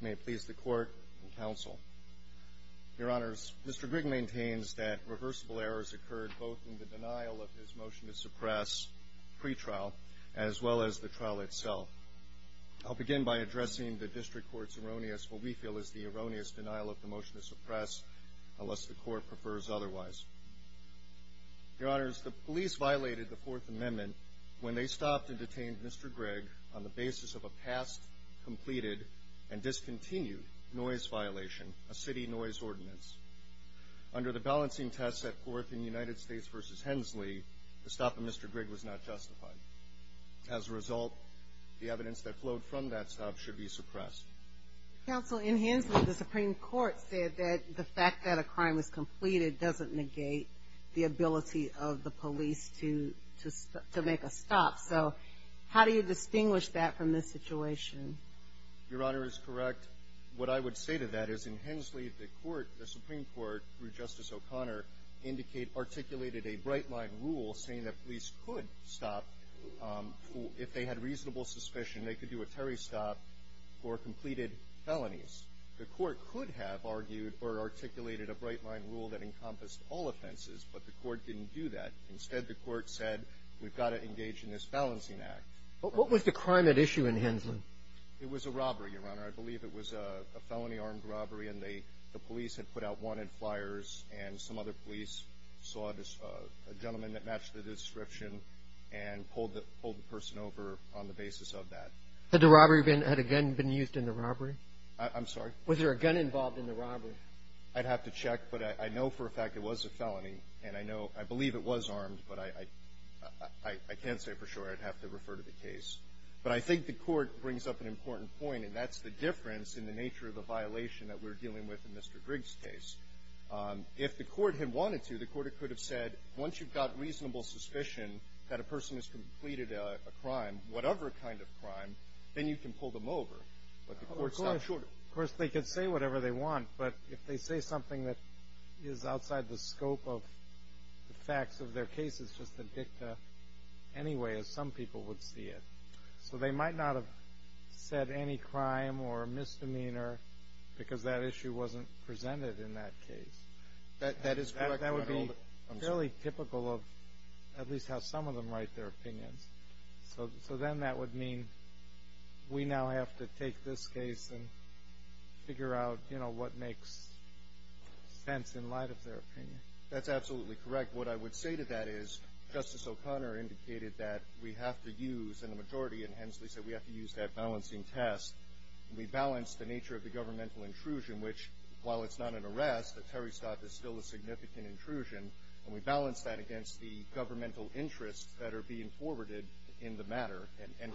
May it please the court and counsel. Your honors, Mr. Grigg maintains that reversible errors occurred both in the denial of his motion to suppress pre-trial as well as the trial itself. I'll begin by addressing the district court's erroneous what we feel is the erroneous denial of the motion to suppress unless the court prefers otherwise. Your honors, the police violated the Fourth Amendment when they stopped and detained Mr. Grigg on the basis of a past completed and discontinued noise violation, a city noise ordinance. Under the balancing test set forth in United States v. Hensley, the stop of Mr. Grigg was not justified. As a result, the evidence that flowed from that stop should be suppressed. Counsel, in Hensley the Supreme Court said that the fact that a crime was completed doesn't negate the ability of the police to make a stop. So how do you distinguish that from this situation? Your honor is correct. What I would say to that is in Hensley the court, the Supreme Court, through Justice O'Connor indicate articulated a bright line rule saying that police could stop if they had reasonable suspicion. They could do a Terry stop or completed felonies. The court could have argued or articulated a bright line rule that encompassed all offenses, but the court didn't do that. Instead, the court said we've got to engage in this balancing act. But what was the crime at issue in Hensley? It was a robbery, your honor. I believe it was a felony armed robbery and they the police had put out wanted flyers and some other police saw this gentleman that matched the description and pulled the person over on the basis of that. Had the robbery had again been used in the robbery? I'm sorry. Was there a gun involved in the robbery? I'd have to check, but I know for a fact it was a felony and I know I believe it was armed, but I can't say for sure. I'd have to refer to the case. But I think the court brings up an important point, and that's the difference in the nature of the violation that we're dealing with in Mr. Griggs case. If the court had wanted to, the court could have said once you've got reasonable suspicion that a person has completed a crime, whatever kind of crime, then you can pull them over. But the court stopped short. Of course, they could say whatever they want, but if they say something that is outside the scope of the facts of their case, it's just the dicta anyway, as some people would see it. So they might not have said any crime or misdemeanor because that issue wasn't presented in that case. That is correct. That would be fairly typical of at least how some of them write their opinions. So then that would mean we now have to take this case and figure out what makes sense in light of their opinion. That's absolutely correct. What I would say to that is Justice O'Connor indicated that we have to use, and the majority in Hensley said we have to use that balancing test. We balance the nature of the governmental intrusion, which, while it's not an arrest, a terrorist act is still a significant intrusion. And we balance that against the governmental interests that are being forwarded in the matter. And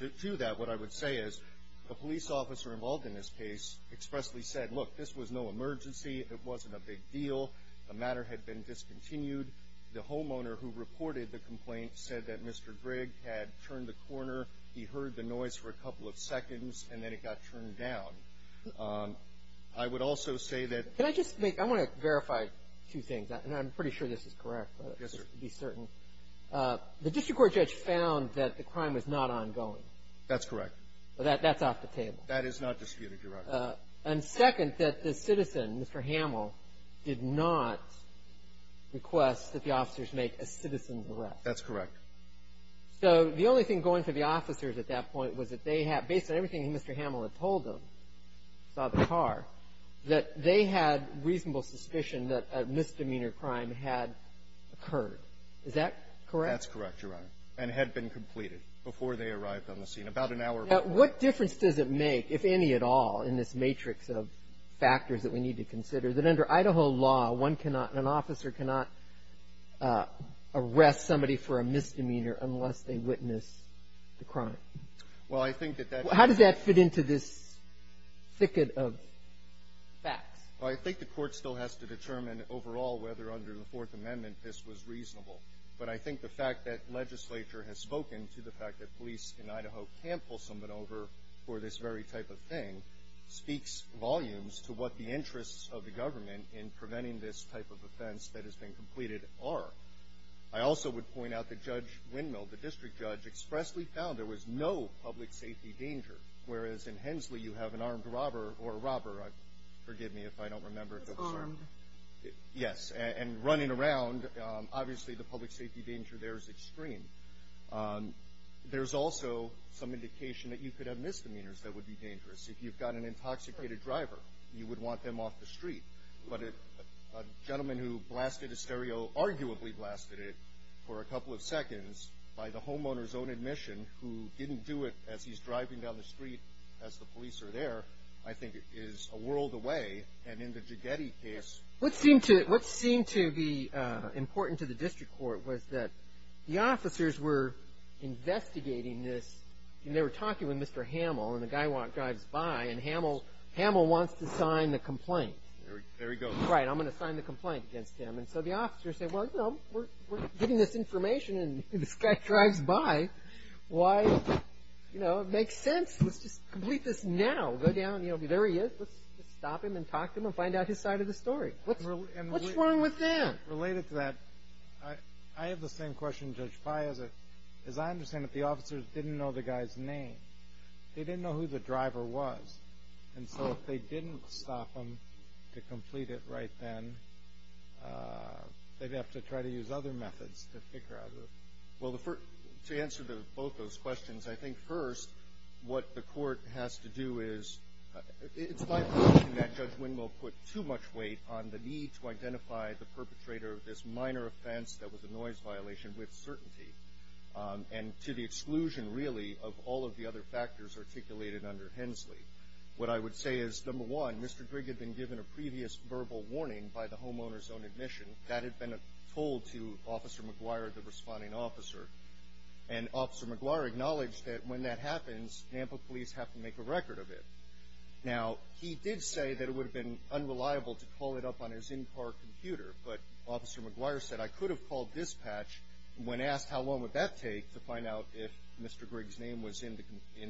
to do that, what I would say is, the police officer involved in this case expressly said, look, this was no emergency. It wasn't a big deal. The case had been discontinued. The homeowner who reported the complaint said that Mr. Grigg had turned the corner. He heard the noise for a couple of seconds, and then it got turned down. I would also say that the ---- Can I just make ---- I want to verify two things, and I'm pretty sure this is correct. Yes, sir. Just to be certain. The district court judge found that the crime was not ongoing. That's correct. That's off the table. That is not disputed, Your Honor. And second, that the citizen, Mr. Hamill, did not request that the officers make a citizen's arrest. That's correct. So the only thing going through the officers at that point was that they had ---- based on everything Mr. Hamill had told them, saw the car, that they had reasonable suspicion that a misdemeanor crime had occurred. Is that correct? That's correct, Your Honor. And had been completed before they arrived on the scene, about an hour before. What difference does it make, if any at all, in this matrix of factors that we need to consider, that under Idaho law, one cannot, an officer cannot arrest somebody for a misdemeanor unless they witness the crime? Well, I think that that ---- How does that fit into this thicket of facts? Well, I think the Court still has to determine overall whether under the Fourth Amendment this was reasonable. But I think the fact that legislature has spoken to the fact that police in Idaho can't pull someone over for this very type of thing speaks volumes to what the interests of the government in preventing this type of offense that has been completed are. I also would point out that Judge Windmill, the district judge, expressly found there was no public safety danger. Whereas in Hensley, you have an armed robber or a robber, forgive me if I don't remember. Armed. Yes. And running around, obviously the public safety danger there is extreme. There's also some indication that you could have misdemeanors that would be dangerous. If you've got an intoxicated driver, you would want them off the street. But a gentleman who blasted a stereo, arguably blasted it for a couple of seconds by the homeowner's own admission, who didn't do it as he's driving down the street. What seemed to be important to the district court was that the officers were investigating this, and they were talking with Mr. Hamill, and the guy drives by, and Hamill wants to sign the complaint. There he goes. Right. I'm going to sign the complaint against him. And so the officers say, well, you know, we're getting this information, and this guy drives by. Why, you know, it makes sense. Let's just complete this now. Go down, you know, there he is. Let's just stop him and talk to him and find out his side of the story. What's wrong with that? Related to that, I have the same question, Judge Pai. As I understand it, the officers didn't know the guy's name. They didn't know who the driver was. And so if they didn't stop him to complete it right then, they'd have to try to use other methods to figure out the... Well, to answer to both those questions, I think first what the court has to do is, it's my position that Judge Wendell put too much weight on the need to identify the perpetrator of this minor offense that was a noise violation with certainty, and to the exclusion, really, of all of the other factors articulated under Hensley. What I would say is, number one, Mr. Grigg had been given a previous verbal warning by the homeowner's own admission. That had been told to Officer McGuire, the responding officer. And Officer McGuire acknowledged that when that happens, Nampa police have to make a record of it. Now, he did say that it would have been unreliable to call it up on his in-car computer, but Officer McGuire said, I could have called dispatch. When asked how long would that take to find out if Mr. Grigg's name was in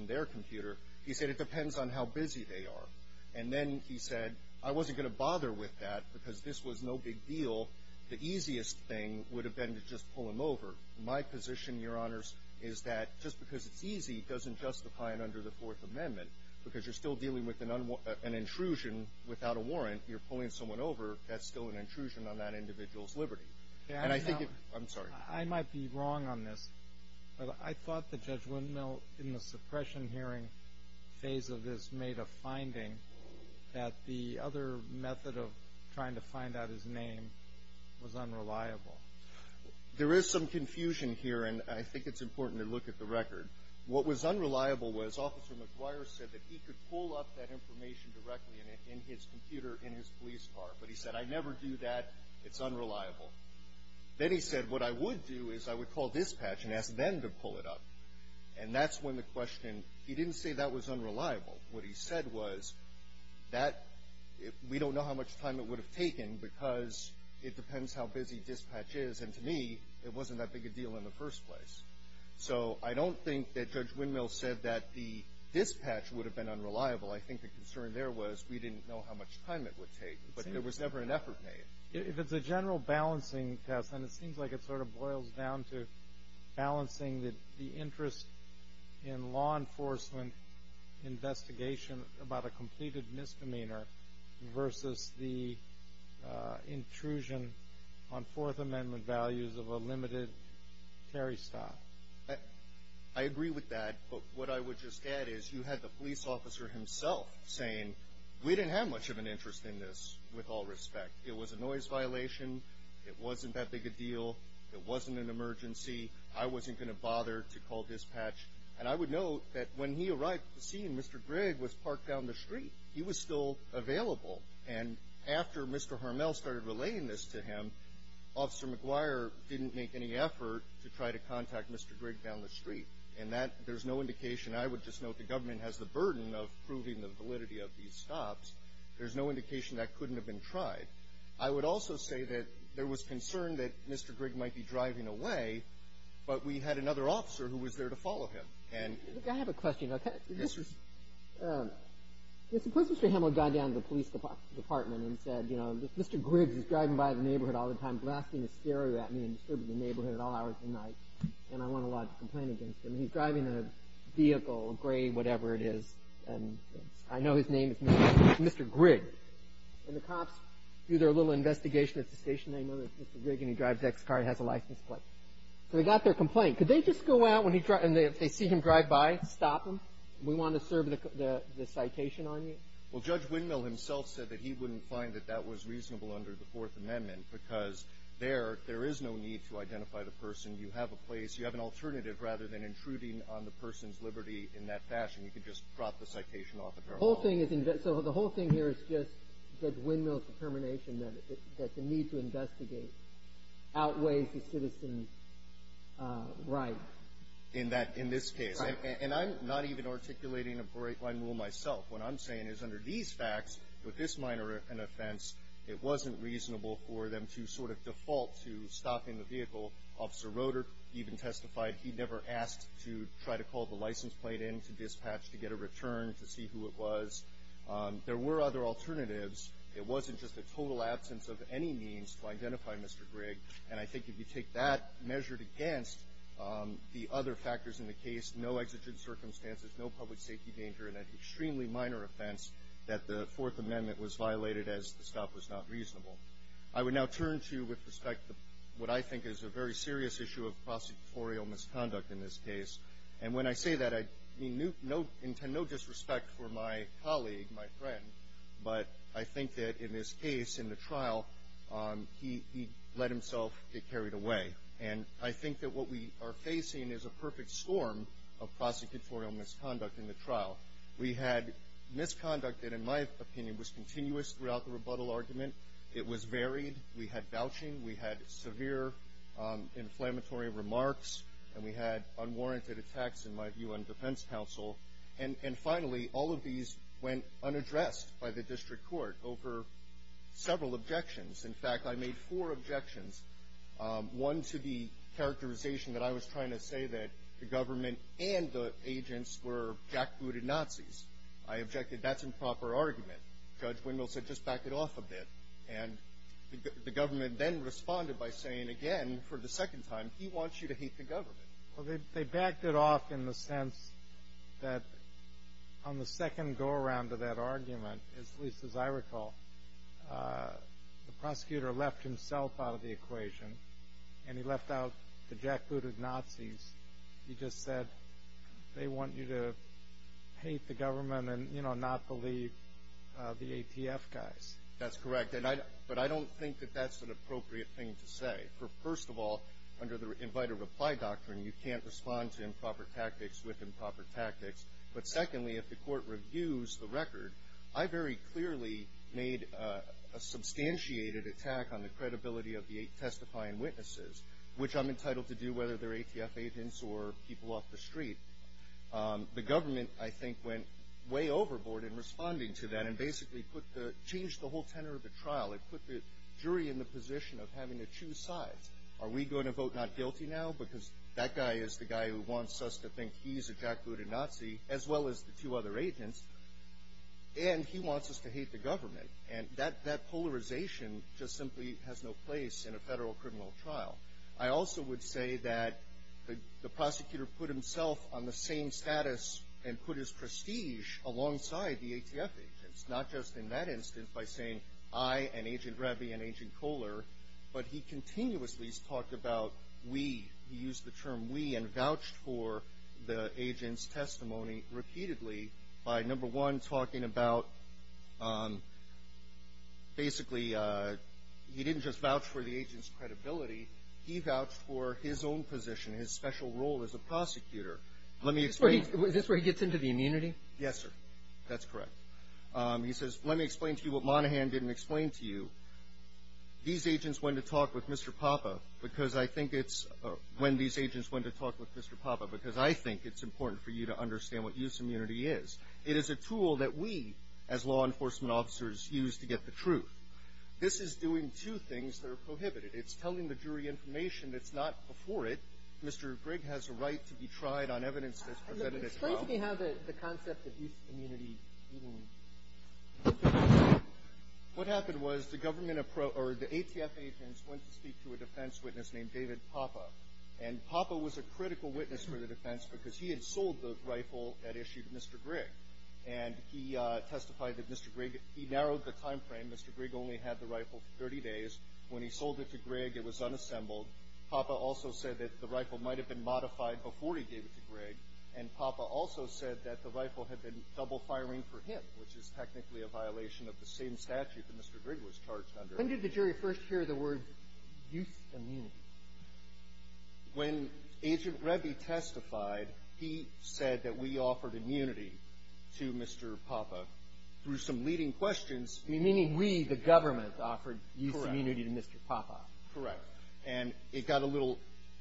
their computer, he said, it depends on how busy they are. And then he said, I wasn't going to bother with that because this was no big deal. The easiest thing would have been to just pull him over. My position, Your Honors, is that just because it's easy doesn't justify it under the Fourth Amendment. Because you're still dealing with an intrusion without a warrant, you're pulling someone over, that's still an intrusion on that individual's liberty. And I think it's – I'm sorry. I might be wrong on this, but I thought that Judge Windmill, in the suppression hearing phase of this, made a finding that the other method of trying to find out his name was unreliable. There is some confusion here, and I think it's important to look at the record. What was unreliable was Officer McGuire said that he could pull up that information directly in his computer in his police car. But he said, I'd never do that. It's unreliable. Then he said, what I would do is I would call dispatch and ask them to pull it up. And that's when the question – he didn't say that was unreliable. What he said was, that – we don't know how much time it would have taken because it depends how busy dispatch is. And to me, it wasn't that big a deal in the first place. So I don't think that Judge Windmill said that the dispatch would have been unreliable. I think the concern there was we didn't know how much time it would take. But there was never an effort made. If it's a general balancing test, then it seems like it sort of boils down to balancing the interest in law enforcement investigation about a completed misdemeanor versus the intrusion on Fourth Amendment values of a limited carry stop. I agree with that. But what I would just add is you had the police officer himself saying, we didn't have much of an interest in this, with all respect. It was a noise violation. It wasn't that big a deal. It wasn't an emergency. I wasn't going to bother to call dispatch. And I would note that when he arrived at the scene, Mr. Grigg was parked down the street. He was still available. And after Mr. Harmel started relaying this to him, Officer McGuire didn't make any effort to try to contact Mr. Grigg down the street. And that – there's no indication – I would just note the government has the burden of proving the validity of these stops. There's no indication that couldn't have been tried. I would also say that there was concern that Mr. Grigg might be driving away, but we had another officer who was there to follow him. And I have a question. Suppose Mr. Harmel got down to the police department and said, Mr. Grigg is driving by the neighborhood all the time, blasting his stereo at me and disturbing the neighborhood at all hours of the night, and I want a law to complain against him. He's driving a vehicle, a gray whatever it is, and I know his name is Mr. Grigg. And the cops do their little investigation at the station. They know that it's Mr. Grigg, and he drives X car and has a license plate. So they got their eye. Stop him. We want to serve the citation on you. Well, Judge Windmill himself said that he wouldn't find that that was reasonable under the Fourth Amendment because there – there is no need to identify the person. You have a place – you have an alternative rather than intruding on the person's liberty in that fashion. You could just drop the citation off at our home. The whole thing is – so the whole thing here is just Judge Windmill's determination that the need to investigate outweighs the citizen's right. In that – in this case. Right. And I'm not even articulating a break-line rule myself. What I'm saying is under these facts, with this minor an offense, it wasn't reasonable for them to sort of default to stopping the vehicle. Officer Roeder even testified he'd never asked to try to call the license plate in to dispatch to get a return to see who it was. There were other alternatives. It wasn't just a total absence of any means to identify Mr. Grigg. And I think if you take that measured against the other factors in the case, no exigent circumstances, no public safety danger, and an extremely minor offense, that the Fourth Amendment was violated as the stop was not reasonable. I would now turn to, with respect to what I think is a very serious issue of prosecutorial misconduct in this case. And when I say that, I mean no – no – and to no disrespect for my colleague, my friend, but I think that in this case, in the trial, he – he let himself get carried away. And I think that what we are facing is a perfect storm of prosecutorial misconduct in the trial. We had misconduct that, in my opinion, was continuous throughout the rebuttal argument. It was varied. We had vouching. We had severe inflammatory remarks. And we had unwarranted attacks, in my view, on defense counsel. And – and finally, all of these went unaddressed by the district court over several objections. In fact, I made four objections, one to the characterization that I was trying to say that the government and the agents were jackbooted Nazis. I objected, that's improper argument. Judge Wendell said, just back it off a bit. And the government then responded by saying again, for the second time, he wants you to hate the government. Well, they – they backed it off in the sense that on the second go-around of that argument, at least as I recall, the prosecutor left himself out of the equation. And he left out the jackbooted Nazis. He just said, they want you to hate the government and, you know, not believe the ATF guys. That's correct. And I – but I don't think that that's an appropriate thing to say. For first of all, under the invite-or-reply doctrine, you can't respond to improper tactics with improper tactics. But secondly, if the court reviews the record, I very clearly made a – a substantiated attack on the credibility of the eight testifying witnesses, which I'm entitled to do, whether they're ATF agents or people off the street. The government, I think, went way overboard in responding to that and basically put the – changed the whole tenor of the trial. It put the jury in the skies. Are we going to vote not guilty now? Because that guy is the guy who wants us to think he's a jackbooted Nazi, as well as the two other agents. And he wants us to hate the government. And that – that polarization just simply has no place in a federal criminal trial. I also would say that the – the prosecutor put himself on the same status and put his prestige alongside the ATF agents, not just in that instance by saying, I and he used the term we and vouched for the agent's testimony repeatedly by, number one, talking about – basically, he didn't just vouch for the agent's credibility. He vouched for his own position, his special role as a prosecutor. Let me explain – Is this where he – is this where he gets into the immunity? Yes, sir. That's correct. He says, let me explain to you what Monaghan didn't explain to you. These agents went to talk with Mr. Papa because I think it's – when these agents went to talk with Mr. Papa, because I think it's important for you to understand what use immunity is. It is a tool that we, as law enforcement officers, use to get the truth. This is doing two things that are prohibited. It's telling the jury information that's not before it. Mr. Grigg has a right to be tried on evidence that's presented at trial. Explain to me how the – the concept of use immunity even – What happened was the government – or the ATF agents went to speak to a defense witness named David Papa. And Papa was a critical witness for the defense because he had sold the rifle that issued Mr. Grigg. And he testified that Mr. Grigg – he narrowed the timeframe. Mr. Grigg only had the rifle for 30 days. When he sold it to Grigg, it was unassembled. Papa also said that the rifle might have been modified before he gave it to Grigg. And Papa also said that the rifle had been double-firing for him, which is technically a violation of the same statute that Mr. Grigg was charged under. When did the jury first hear the words use immunity? When Agent Rebbi testified, he said that we offered immunity to Mr. Papa through some leading questions. Meaning we, the government, offered use immunity to Mr. Papa. Correct. And it got a little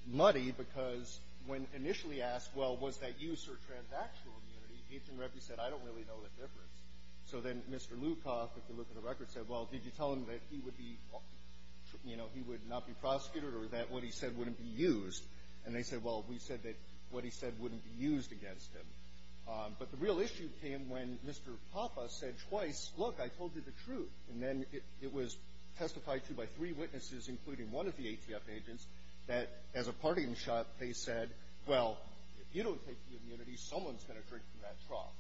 muddy because when initially asked, well, was that use or transactional immunity, Agent Rebbi said, I don't really know the difference. So then Mr. Lukoff, if you look at the record, said, well, did you tell him that he would be – you know, he would not be prosecuted or that what he said wouldn't be used? And they said, well, we said that what he said wouldn't be used against him. But the real issue came when Mr. Papa said twice, look, I told you the truth. And then it was testified to by three witnesses, including one of the ATF agents, that as a parting shot, they said, well, if you don't take the immunity, someone's going to drink from that trough.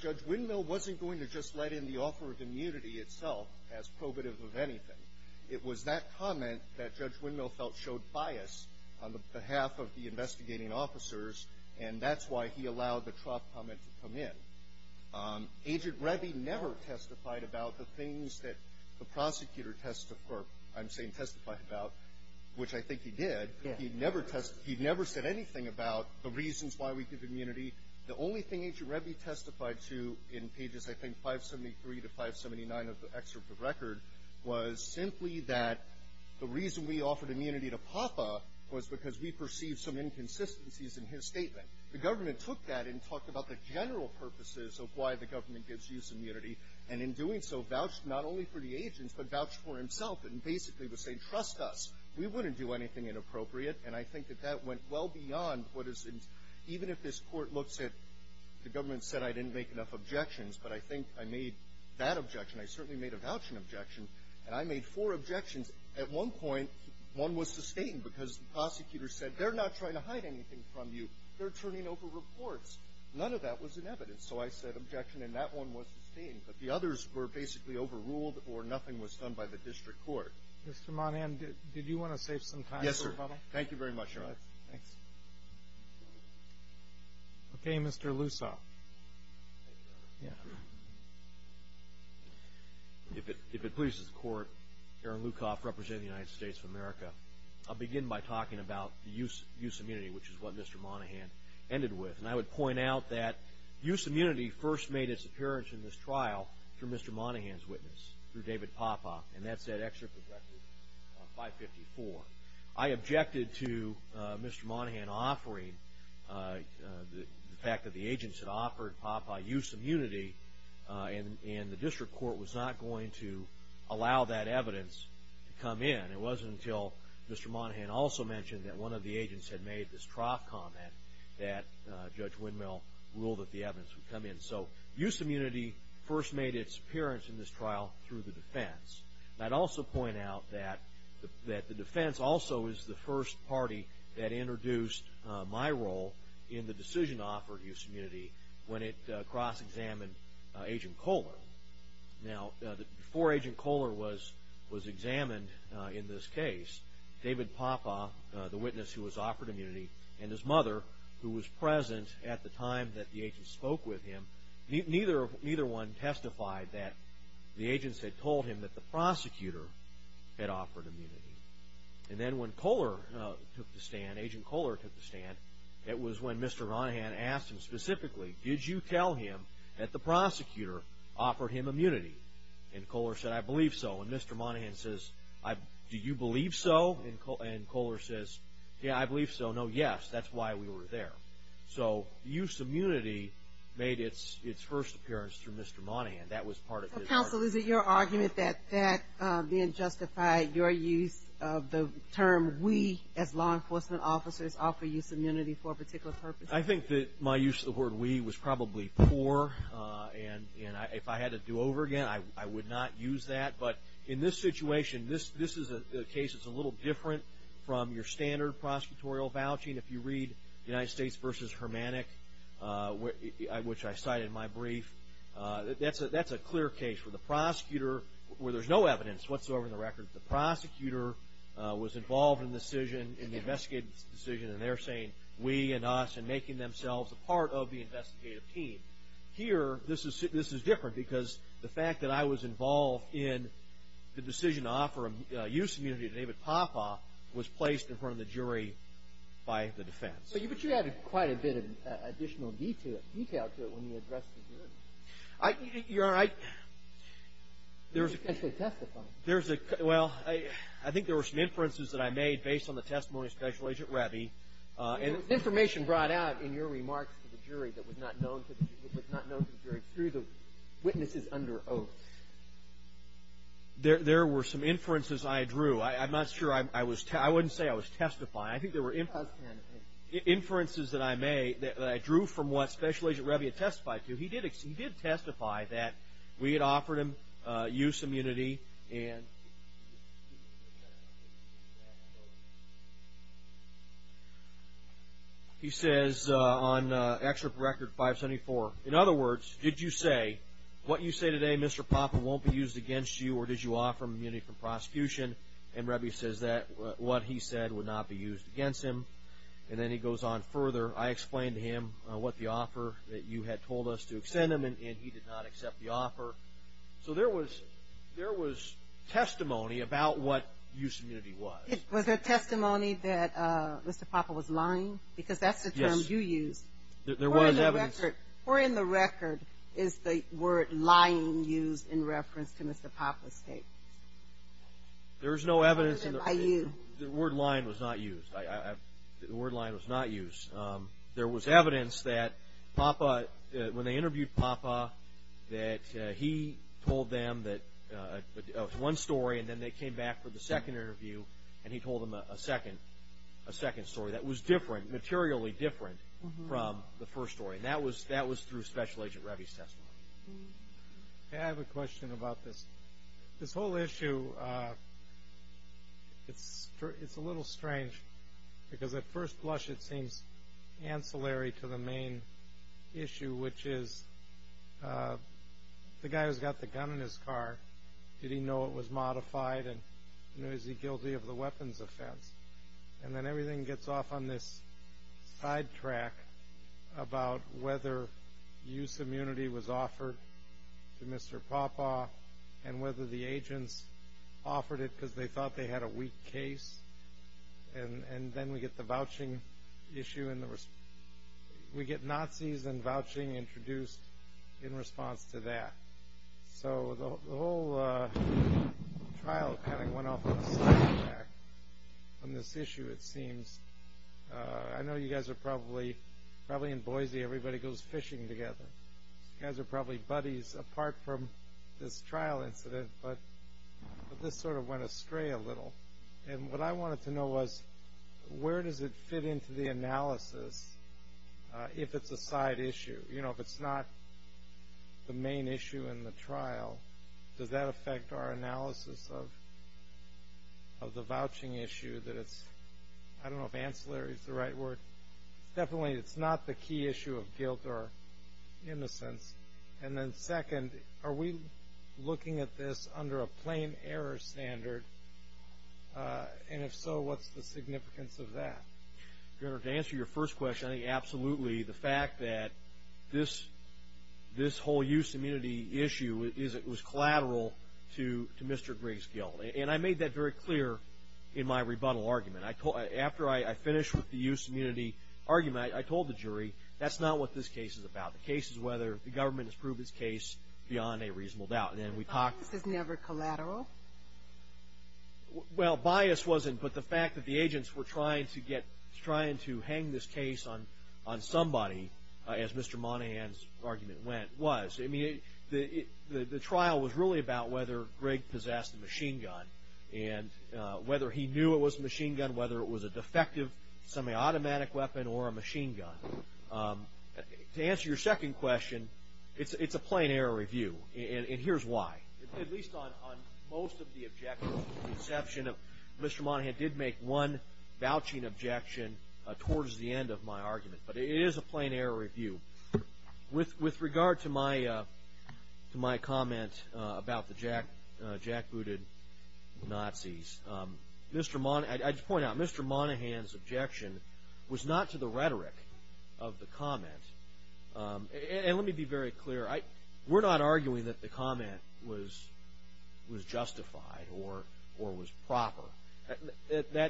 Judge Windmill wasn't going to just let in the offer of immunity itself as probative of anything. It was that comment that Judge Windmill felt showed bias on the behalf of the investigating officers, and that's why he allowed the trough comment to come in. Agent Rebbi never testified about the things that the prosecutor – or I'm saying testified about, which I think he did. He never – he never said anything about the reasons why we give immunity. The only thing Agent Rebbi testified to in pages, I think, 573 to 579 of the excerpt of the record was simply that the reason we offered immunity to Papa was because we perceived some inconsistencies in his statement. The government took that and talked about the general purposes of why the government gives use immunity, and in doing so, vouched not only for the agents but vouched for himself and basically was saying, trust us. We wouldn't do anything inappropriate, and I think that that went well beyond what is – even if this court looks at – the government said I didn't make enough objections, but I think I made that objection. I certainly made a vouching objection, and I made four objections. At one point, one was sustained because the prosecutor said, they're not trying to hide anything from you. They're turning over reports. None of that was in evidence. So I said objection, and that one was sustained. But the others were basically overruled or nothing was done by the district court. Mr. Monahan, did you want to save some time for a couple? Yes, sir. Thank you very much, Your Honor. Thanks. Okay, Mr. Lusaw. Thank you, Your Honor. Yeah. If it pleases the Court, Aaron Lukoff, representing the United States of America, I'll begin by talking about the use immunity, which is what Mr. Monahan ended with. And I would point out that use immunity first made its appearance in this trial through Mr. Monahan's witness, through David Papa, and that's at Excerpt of Record 554. I objected to Mr. Monahan offering the fact that the agents had offered Papa use immunity, and the district court was not going to allow that evidence to come in. It wasn't until Mr. Monahan also mentioned that one of the agents had made this trough comment that Judge Windmill ruled that the evidence would come in. So use immunity first made its appearance in this trial through the defense. I'd also point out that the defense also is the first party that introduced my role in the decision to offer use immunity when it cross-examined Agent Kohler. Now, before Agent Kohler was examined in this case, David Papa, the witness who was offered immunity, and his mother, who was present at the time that the agents spoke with him, neither one testified that the agents had told him that the prosecutor had offered immunity. And then when Kohler took the stand, Agent Kohler took the stand, it was when Mr. Monahan asked him specifically, did you tell him that the prosecutor offered him immunity? And Kohler said, I believe so. And Mr. Monahan says, do you believe so? And Kohler says, yeah, I believe so. No, yes, that's why we were there. So use immunity made its first appearance through Mr. Monahan. Counsel, is it your argument that that then justified your use of the term we, as law enforcement officers, offer use immunity for a particular purpose? I think that my use of the word we was probably poor, and if I had to do over again, I would not use that. But in this situation, this is a case that's a little different from your standard prosecutorial vouching. If you read United States v. Hermannick, which I cite in my brief, that's a clear case where the prosecutor, where there's no evidence whatsoever in the record, the prosecutor was involved in the decision, in the investigative decision, and they're saying we and us and making themselves a part of the investigative team. Here, this is different, because the fact that I was involved in the decision to offer use immunity to David Popoff was placed in front of the jury by the defense. But you added quite a bit of additional detail to it when you addressed the jury. You're right. There's a... Well, I think there were some inferences that I made based on the testimony of Special Agent Reby. Information brought out in your remarks to the jury that was not known to the jury through the witnesses under oath. There were some inferences I drew. I'm not sure I was... I wouldn't say I was testifying. I think there were inferences that I made that I drew from what Special Agent Reby had testified to. He did testify that we had offered him use immunity and... He says on Excerpt Record 574, in other words, did you say, what you say today, Mr. Popoff, won't be used against you or did you offer him immunity from prosecution? And Reby says that what he said would not be used against him. And then he goes on further, I explained to him what the offer that you had told us to extend him and he did not accept the offer. So there was testimony about what use immunity was. Was there testimony that Mr. Popoff was lying? Because that's the term you used. Or in the record, is the word lying used in reference to Mr. Popoff's case? There is no evidence... The word lying was not used. There was evidence that when they interviewed Popoff that he told them one story and then they came back for the second interview and he told them a second story that was different, materially different from the first story. And that was through Special Agent Reby's testimony. I have a question about this. This whole issue, it's a little strange because at first blush it seems ancillary to the main issue which is the guy who's got the gun in his car did he know it was modified and is he guilty of the weapons offense? And then everything gets off on this sidetrack about whether use immunity was offered to Mr. Popoff and whether the agents offered it because they thought they had a weak case and then we get the vouching issue and we get Nazis and vouching introduced in response to that. So the whole trial kind of went off on a sidetrack on this issue it seems. I know you guys are probably in Boise, everybody goes fishing together you guys are probably buddies apart from this trial incident but this sort of went astray a little and what I wanted to know was where does it fit into the analysis if it's a side issue? If it's not the main issue in the trial does that affect our analysis of the vouching issue I don't know if ancillary is the right word definitely it's not the key issue of guilt or innocence and then second are we looking at this under a plain error standard and if so what's the significance of that? To answer your first question I think absolutely the fact that this whole use immunity issue was collateral to Mr. Griggs' guilt and I made that very clear in my rebuttal argument after I finished with the use immunity argument I told the jury that's not what this case is about the case is whether the government has proved its case beyond a reasonable doubt Bias is never collateral? Well bias wasn't but the fact that the agents were trying to hang this case on somebody as Mr. Monahan's argument went was. The trial was really about whether Griggs possessed a machine gun whether he knew it was a machine gun whether it was a defective semi-automatic weapon or a machine gun To answer your second question it's a plain error review and here's why at least on most of the objections Mr. Monahan did make one vouching objection towards the end of my argument but it is a plain error review with regard to my comment about the jackbooted Nazis Mr. Monahan's objection was not to the rhetoric of the comment and let me be very clear we're not arguing that the comment was justified or was proper we're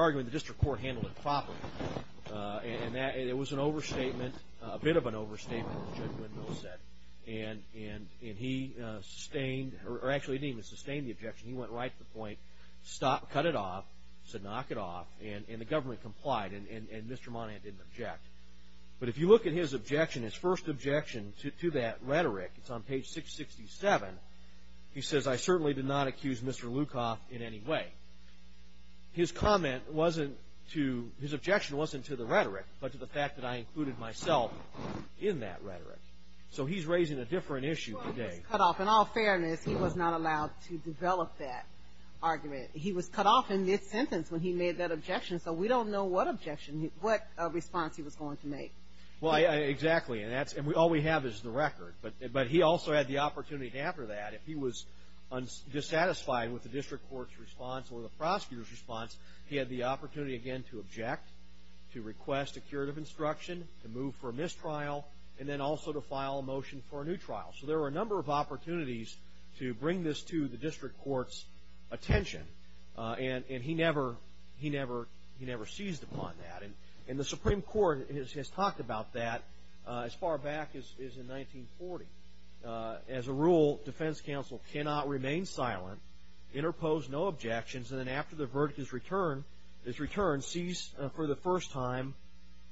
arguing the district court handled it properly and it was an overstatement a bit of an overstatement and he sustained or actually he didn't even sustain the objection he went right to the point cut it off, said knock it off and the government complied and Mr. Monahan didn't object but if you look at his objection his first objection to that rhetoric it's on page 667 he says I certainly did not accuse Mr. Lukoff in any way his comment wasn't to his objection wasn't to the rhetoric but to the fact that I included myself in that rhetoric so he's raising a different issue today in all fairness he was not allowed to develop that argument he was cut off in mid-sentence when he made that objection so we don't know what response he was going to make well exactly and all we have is the record but he also had the opportunity after that if he was dissatisfied with the district court's response or the prosecutor's response he had the opportunity again to object to request a curative instruction to move for a mistrial and then also to file a motion for a new trial so there were a number of opportunities to bring this to the district court's attention and he never seized upon that and the Supreme Court has talked about that as far back as in 1940 as a rule defense counsel cannot remain silent interpose no objections and then after the verdict is returned cease for the first time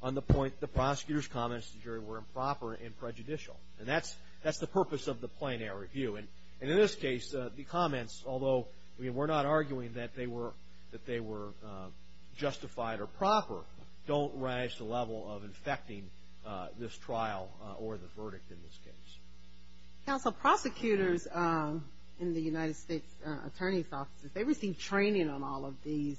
on the point the prosecutor's comments were improper and prejudicial and that's the purpose of the plein air review and in this case the comments although we're not arguing that they were justified or proper don't rise to the level of infecting this trial or the verdict in this case counsel prosecutors in the United States attorney's offices they receive training on all of these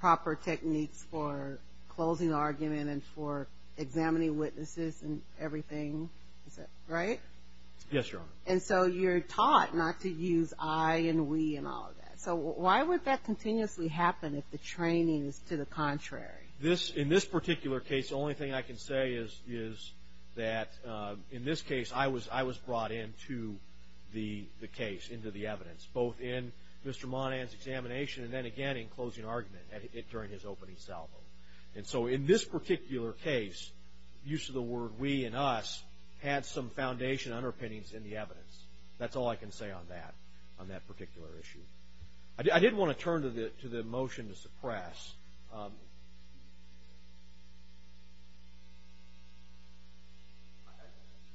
proper techniques for closing argument and for examining witnesses and everything right? and so you're taught not to use I and we so why would that continuously happen if the training is to the contrary in this particular case the only thing I can say is that in this case I was brought in to the case, into the evidence both in Mr. Monahan's examination and then again in closing argument during his opening salvo and so in this particular case use of the word we and us had some foundation underpinnings in the evidence that's all I can say on that particular issue I did want to turn to the motion to suppress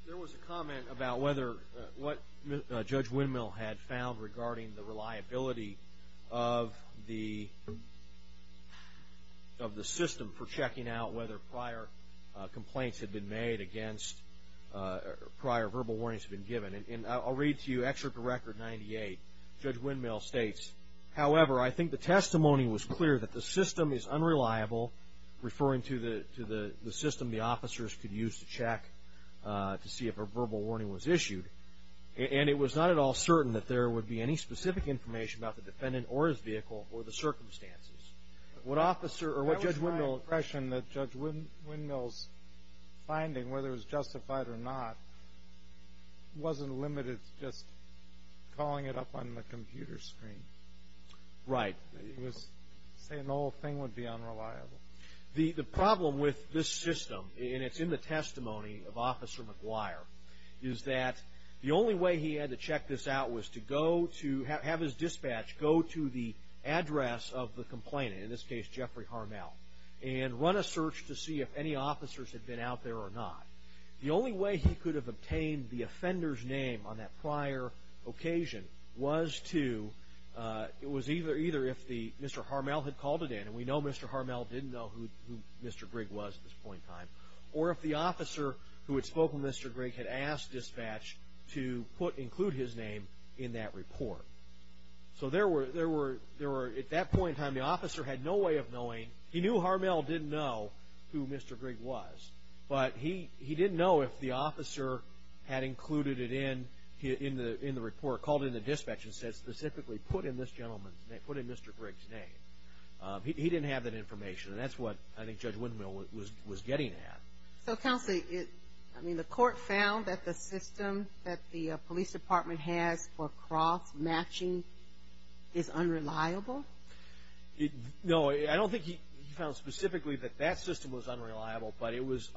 there was a comment about what Judge Windmill had found regarding the reliability of the of the system for checking out whether prior complaints had been made against prior verbal warnings had been given and I'll read to you Excerpt to Record 98 Judge Windmill states, however I think the testimony was clear that the system is unreliable referring to the system the officers could use to check to see if a verbal warning was issued and it was not at all certain that there would be any specific about the defendant or his vehicle or the circumstances what Judge Windmill's finding whether it was justified or not wasn't limited to just calling it up on the computer screen right, he was saying the whole thing would be unreliable the problem with this system and it's in the testimony of Officer McGuire is that the only way he had to check this out was to have his dispatch go to the address of the complainant in this case Jeffrey Harmel and run a search to see if any officers had been out there or not the only way he could have obtained the offender's name on that prior occasion was to it was either if Mr. Harmel had called it in and we know Mr. Harmel didn't know who Mr. Grigg was at this point in time or if the officer who had spoken to Mr. Grigg had asked dispatch to include his name in that report so there were at that point in time the officer had no way of knowing, he knew Harmel didn't know who Mr. Grigg was but he didn't know if the officer had included it in in the report, called in the dispatch and said specifically put in this gentleman's name, put in Mr. Grigg's name he didn't have that information and that's what I think he was getting at. So counsel, I mean the court found that the system that the police department has for cross-matching is unreliable? No I don't think he found specifically that that system was unreliable but it was,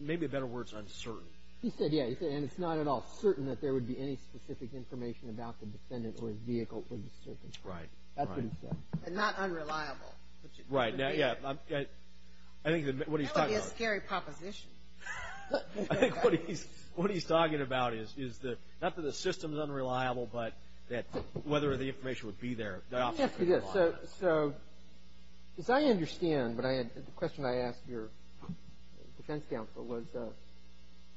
maybe a better word is uncertain He said yeah, and it's not at all certain that there would be any specific information about the defendant or his vehicle Right. That's what he said. And not unreliable Right, yeah, I think That would be a scary proposition I think what he's talking about is that not that the system is unreliable but whether the information would be there As I understand, the question I asked your defense counsel was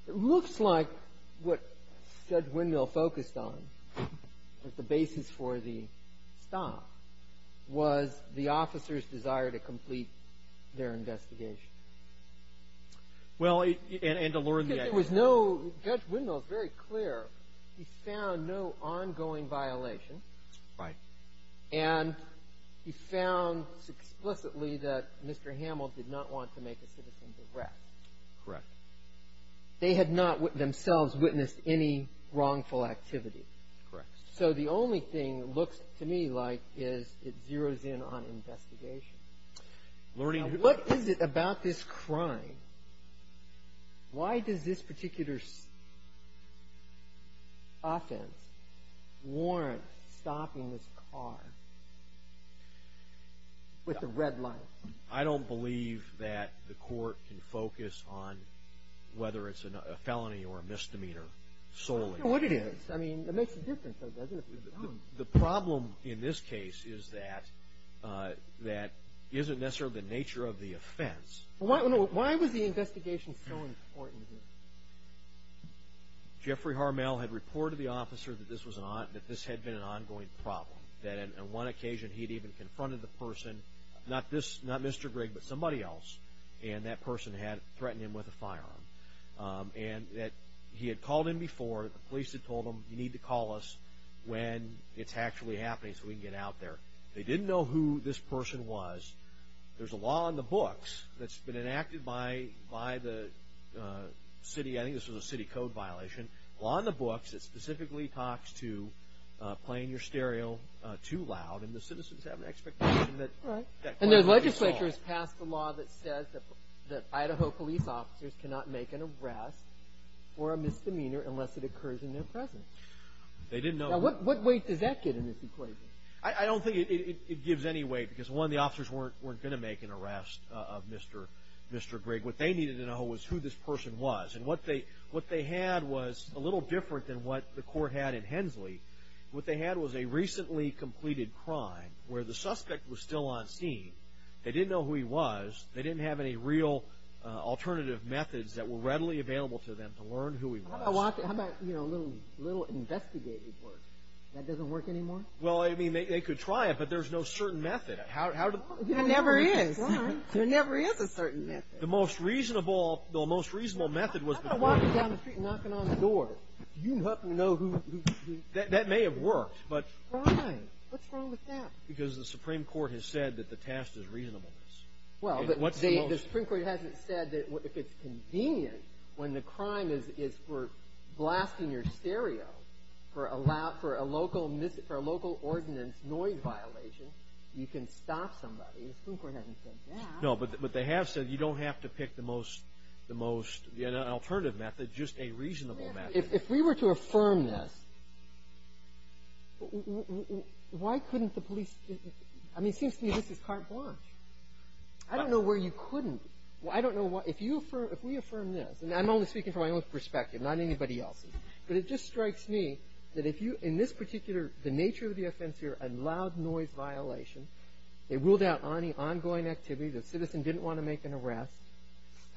it looks like what Judge Windmill focused on as the basis for the stop was the officer's desire to complete their investigation Well, and to learn the idea Judge Windmill is very clear, he found no ongoing violation and he found explicitly that Mr. Hamill did not want to make a citizen's arrest Correct They had not themselves witnessed any wrongful activity So the only thing it looks to me like is it zeroes in on investigation What is it about this crime why does this particular offense warrant stopping this car with the red light I don't believe that the court can focus on whether it's a felony or a misdemeanor I don't know what it is It makes a difference The problem in this case is that that isn't necessarily the nature of the offense Why was the investigation so important Jeffrey Harmel had reported to the officer that this had been an ongoing problem that on one occasion he had even confronted the person not Mr. Grigg but somebody else and that person had threatened him with a firearm and that he had called in before the police had told him you need to call us when it's actually happening so we can get out there They didn't know who this person was There's a law in the books that's been enacted by the city, I think this was a city code violation A law in the books that specifically talks to playing your stereo too loud and the citizens have an expectation that And the legislature has passed a law that says that Idaho police officers cannot make an arrest or a misdemeanor unless it occurs in their presence What weight does that get in this equation I don't think it gives any weight because one the officers weren't going to make an arrest of Mr. Grigg What they needed to know was who this person was and what they had was a little different than what the court had in Hensley What they had was a recently completed crime where the suspect was still on scene They didn't know who he was, they didn't have any real alternative methods that were readily available to them to learn who he was How about a little investigative work That doesn't work anymore? They could try it but there's no certain method There never is a certain method The most reasonable method was You're not going to walk down the street knocking on the door That may have worked Why? What's wrong with that? Because the Supreme Court has said that the task is reasonableness The Supreme Court hasn't said that if it's convenient when the crime is for blasting your stereo for a local ordinance noise violation you can stop somebody The Supreme Court hasn't said that No, but they have said you don't have to pick the most alternative method, just a reasonable method If we were to affirm this Why couldn't the police I mean, it seems to me this is carte blanche I don't know where you couldn't If we affirm this, and I'm only speaking from my own perspective not anybody else's, but it just strikes me that in this particular, the nature of the offense here a loud noise violation they ruled out any ongoing activity, the citizen didn't want to make an arrest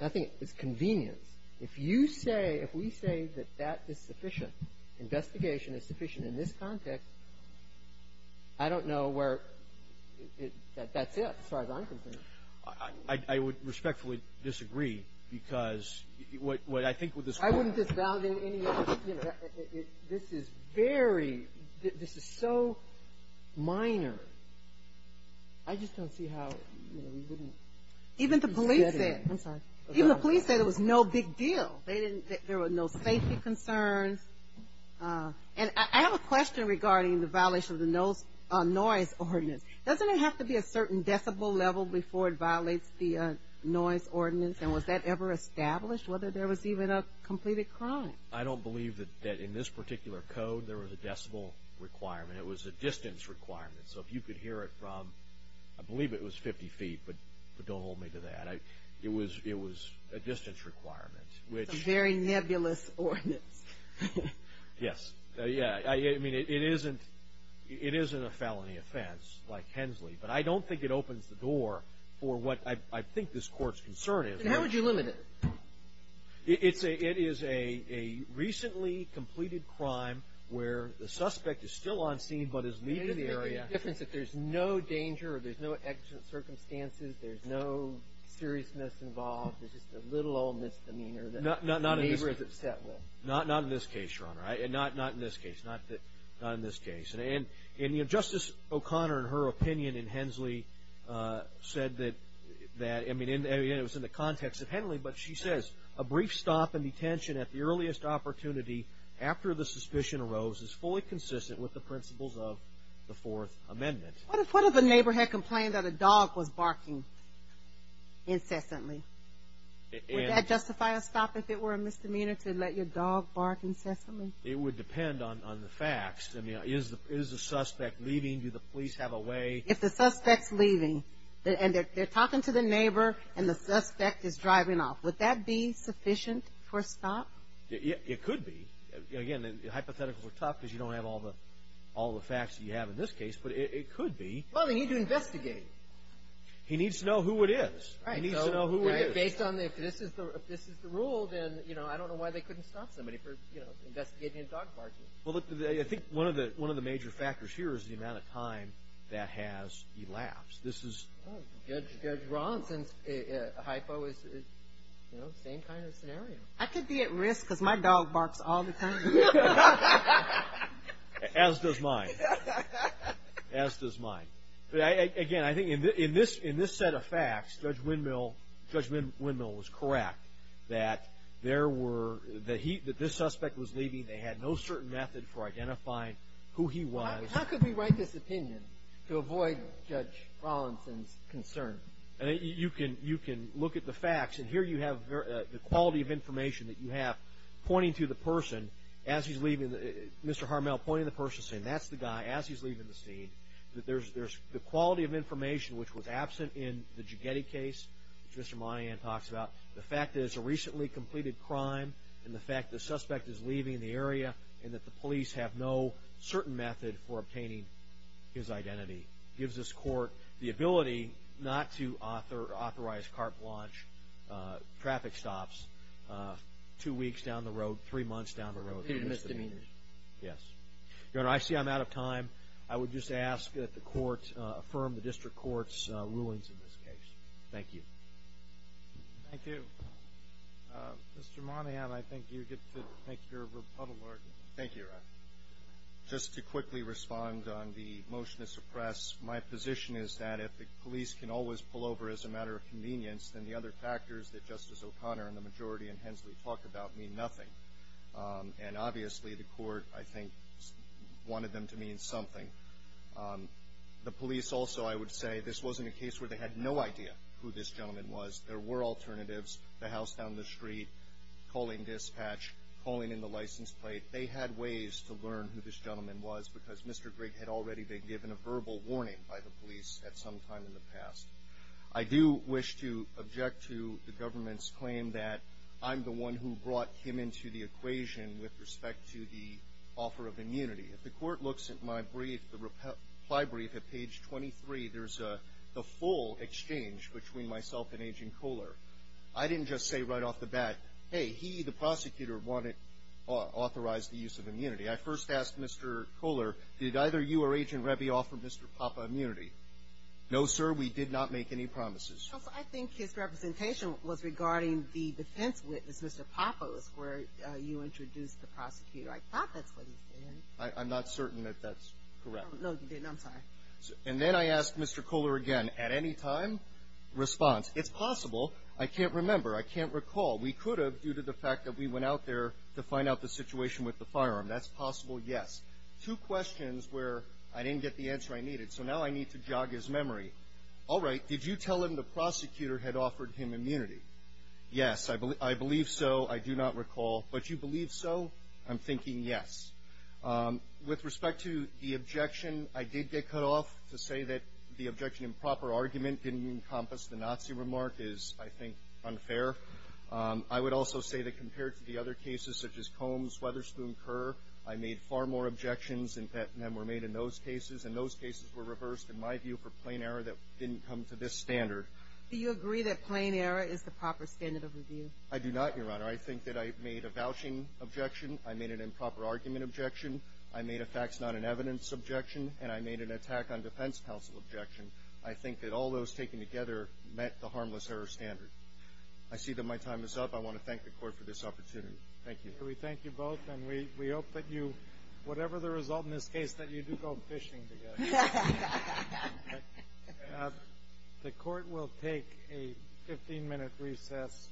I think it's convenience If you say, if we say that that is sufficient investigation is sufficient in this context I don't know where that's it, as far as I'm concerned I would respectfully disagree because I wouldn't disavow any other This is very This is so minor I just don't see how Even the police said Even the police said it was no big deal There were no safety concerns I have a question regarding the violation of the noise ordinance Doesn't it have to be a certain decibel level before it violates the noise ordinance and was that ever established, whether there was even a completed crime I don't believe that in this particular code there was a decibel requirement, it was a distance requirement So if you could hear it from, I believe it was 50 feet but don't hold me to that It was a distance requirement A very nebulous ordinance It isn't a felony offense like Hensley, but I don't think it opens the door for what I think this court's concern is How would you limit it? It is a recently completed crime where the suspect is still on scene, but is leaving the area The difference is that there's no danger, there's no accident circumstances there's no seriousness involved there's just a little old misdemeanor that the neighbor is upset with Not in this case, Your Honor Not in this case Justice O'Connor in her opinion in Hensley said that it was in the context of Hensley, but she says a brief stop and detention at the earliest opportunity after the suspicion arose is fully consistent with the principles of the Fourth Amendment What if a neighbor had complained that a dog was barking incessantly? Would that justify a stop if it were a misdemeanor to let your dog bark incessantly? It would depend on the facts Is the suspect leaving? Do the police have a way? If the suspect's leaving, and they're talking to the neighbor and the suspect is driving off, would that be sufficient for a stop? It could be. Again, hypotheticals are tough because you don't have all the facts you have in this case, but it could be Well, they need to investigate He needs to know who it is Based on, if this is the rule, then I don't know why they couldn't stop somebody for investigating a dog barking One of the major factors here is the amount of time that has elapsed Judge Ronson's hypo is the same kind of scenario I could be at risk because my dog barks all the time As does mine As does mine Again, I think in this set of facts Judge Windmill was correct that this suspect was leaving They had no certain method for identifying who he was How could we write this opinion to avoid Judge Ronson's concern? You can look at the facts, and here you have the quality of information that you have pointing to the person as he's leaving, Mr. Harmel pointing to the person That's the guy, as he's leaving the scene The quality of information, which was absent in the Jogetti case which Mr. Monahan talks about The fact that it's a recently completed crime, and the fact that the suspect is leaving the area, and that the police have no certain method for obtaining his identity Gives this court the ability not to authorize car blanche, traffic stops two weeks down the road, three months down the road Yes Your Honor, I see I'm out of time I would just ask that the court affirm the district court's rulings in this case Thank you Thank you Mr. Monahan, I think you get to make your rebuttal argument Thank you, Your Honor Just to quickly respond on the motion to suppress My position is that if the police can always pull over as a matter of convenience Then the other factors that Justice O'Connor and the majority in Hensley talk about mean nothing And obviously the court, I think, wanted them to mean something The police also, I would say This wasn't a case where they had no idea who this gentleman was There were alternatives, the house down the street Calling dispatch, calling in the license plate They had ways to learn who this gentleman was Because Mr. Grigg had already been given a verbal warning by the police At some time in the past I do wish to object to the government's claim that I'm the one who brought him into the equation With respect to the offer of immunity If the court looks at my brief, the reply brief at page 23 There's the full exchange between myself and Agent Kohler I didn't just say right off the bat Hey, he, the prosecutor, wanted to authorize the use of immunity I first asked Mr. Kohler Did either you or Agent Reby offer Mr. Poppa immunity? No, sir, we did not make any promises I think his representation was regarding the defense witness Mr. Poppa was where you introduced the prosecutor I thought that's what he said I'm not certain that that's correct And then I asked Mr. Kohler again At any time? Response. It's possible I can't remember, I can't recall We could have due to the fact that we went out there To find out the situation with the firearm That's possible, yes Two questions where I didn't get the answer I needed So now I need to jog his memory Alright, did you tell him the prosecutor had offered him immunity? Yes, I believe so, I do not recall But you believe so? I'm thinking yes With respect to the objection, I did get cut off To say that the objection improper argument didn't encompass The Nazi remark is, I think, unfair I would also say that compared to the other cases Such as Combs, Weatherspoon, Kerr I made far more objections than were made in those cases And those cases were reversed, in my view, for plain error That didn't come to this standard Do you agree that plain error is the proper standard of review? I do not, Your Honor. I think that I made a vouching objection I made an improper argument objection I made a facts not in evidence objection And I made an attack on defense counsel objection I think that all those taken together met the harmless error standard I see that my time is up, I want to thank the court for this opportunity Thank you We thank you both, and we hope that you Whatever the result in this case, that you do go fishing together The court will take a 15 minute recess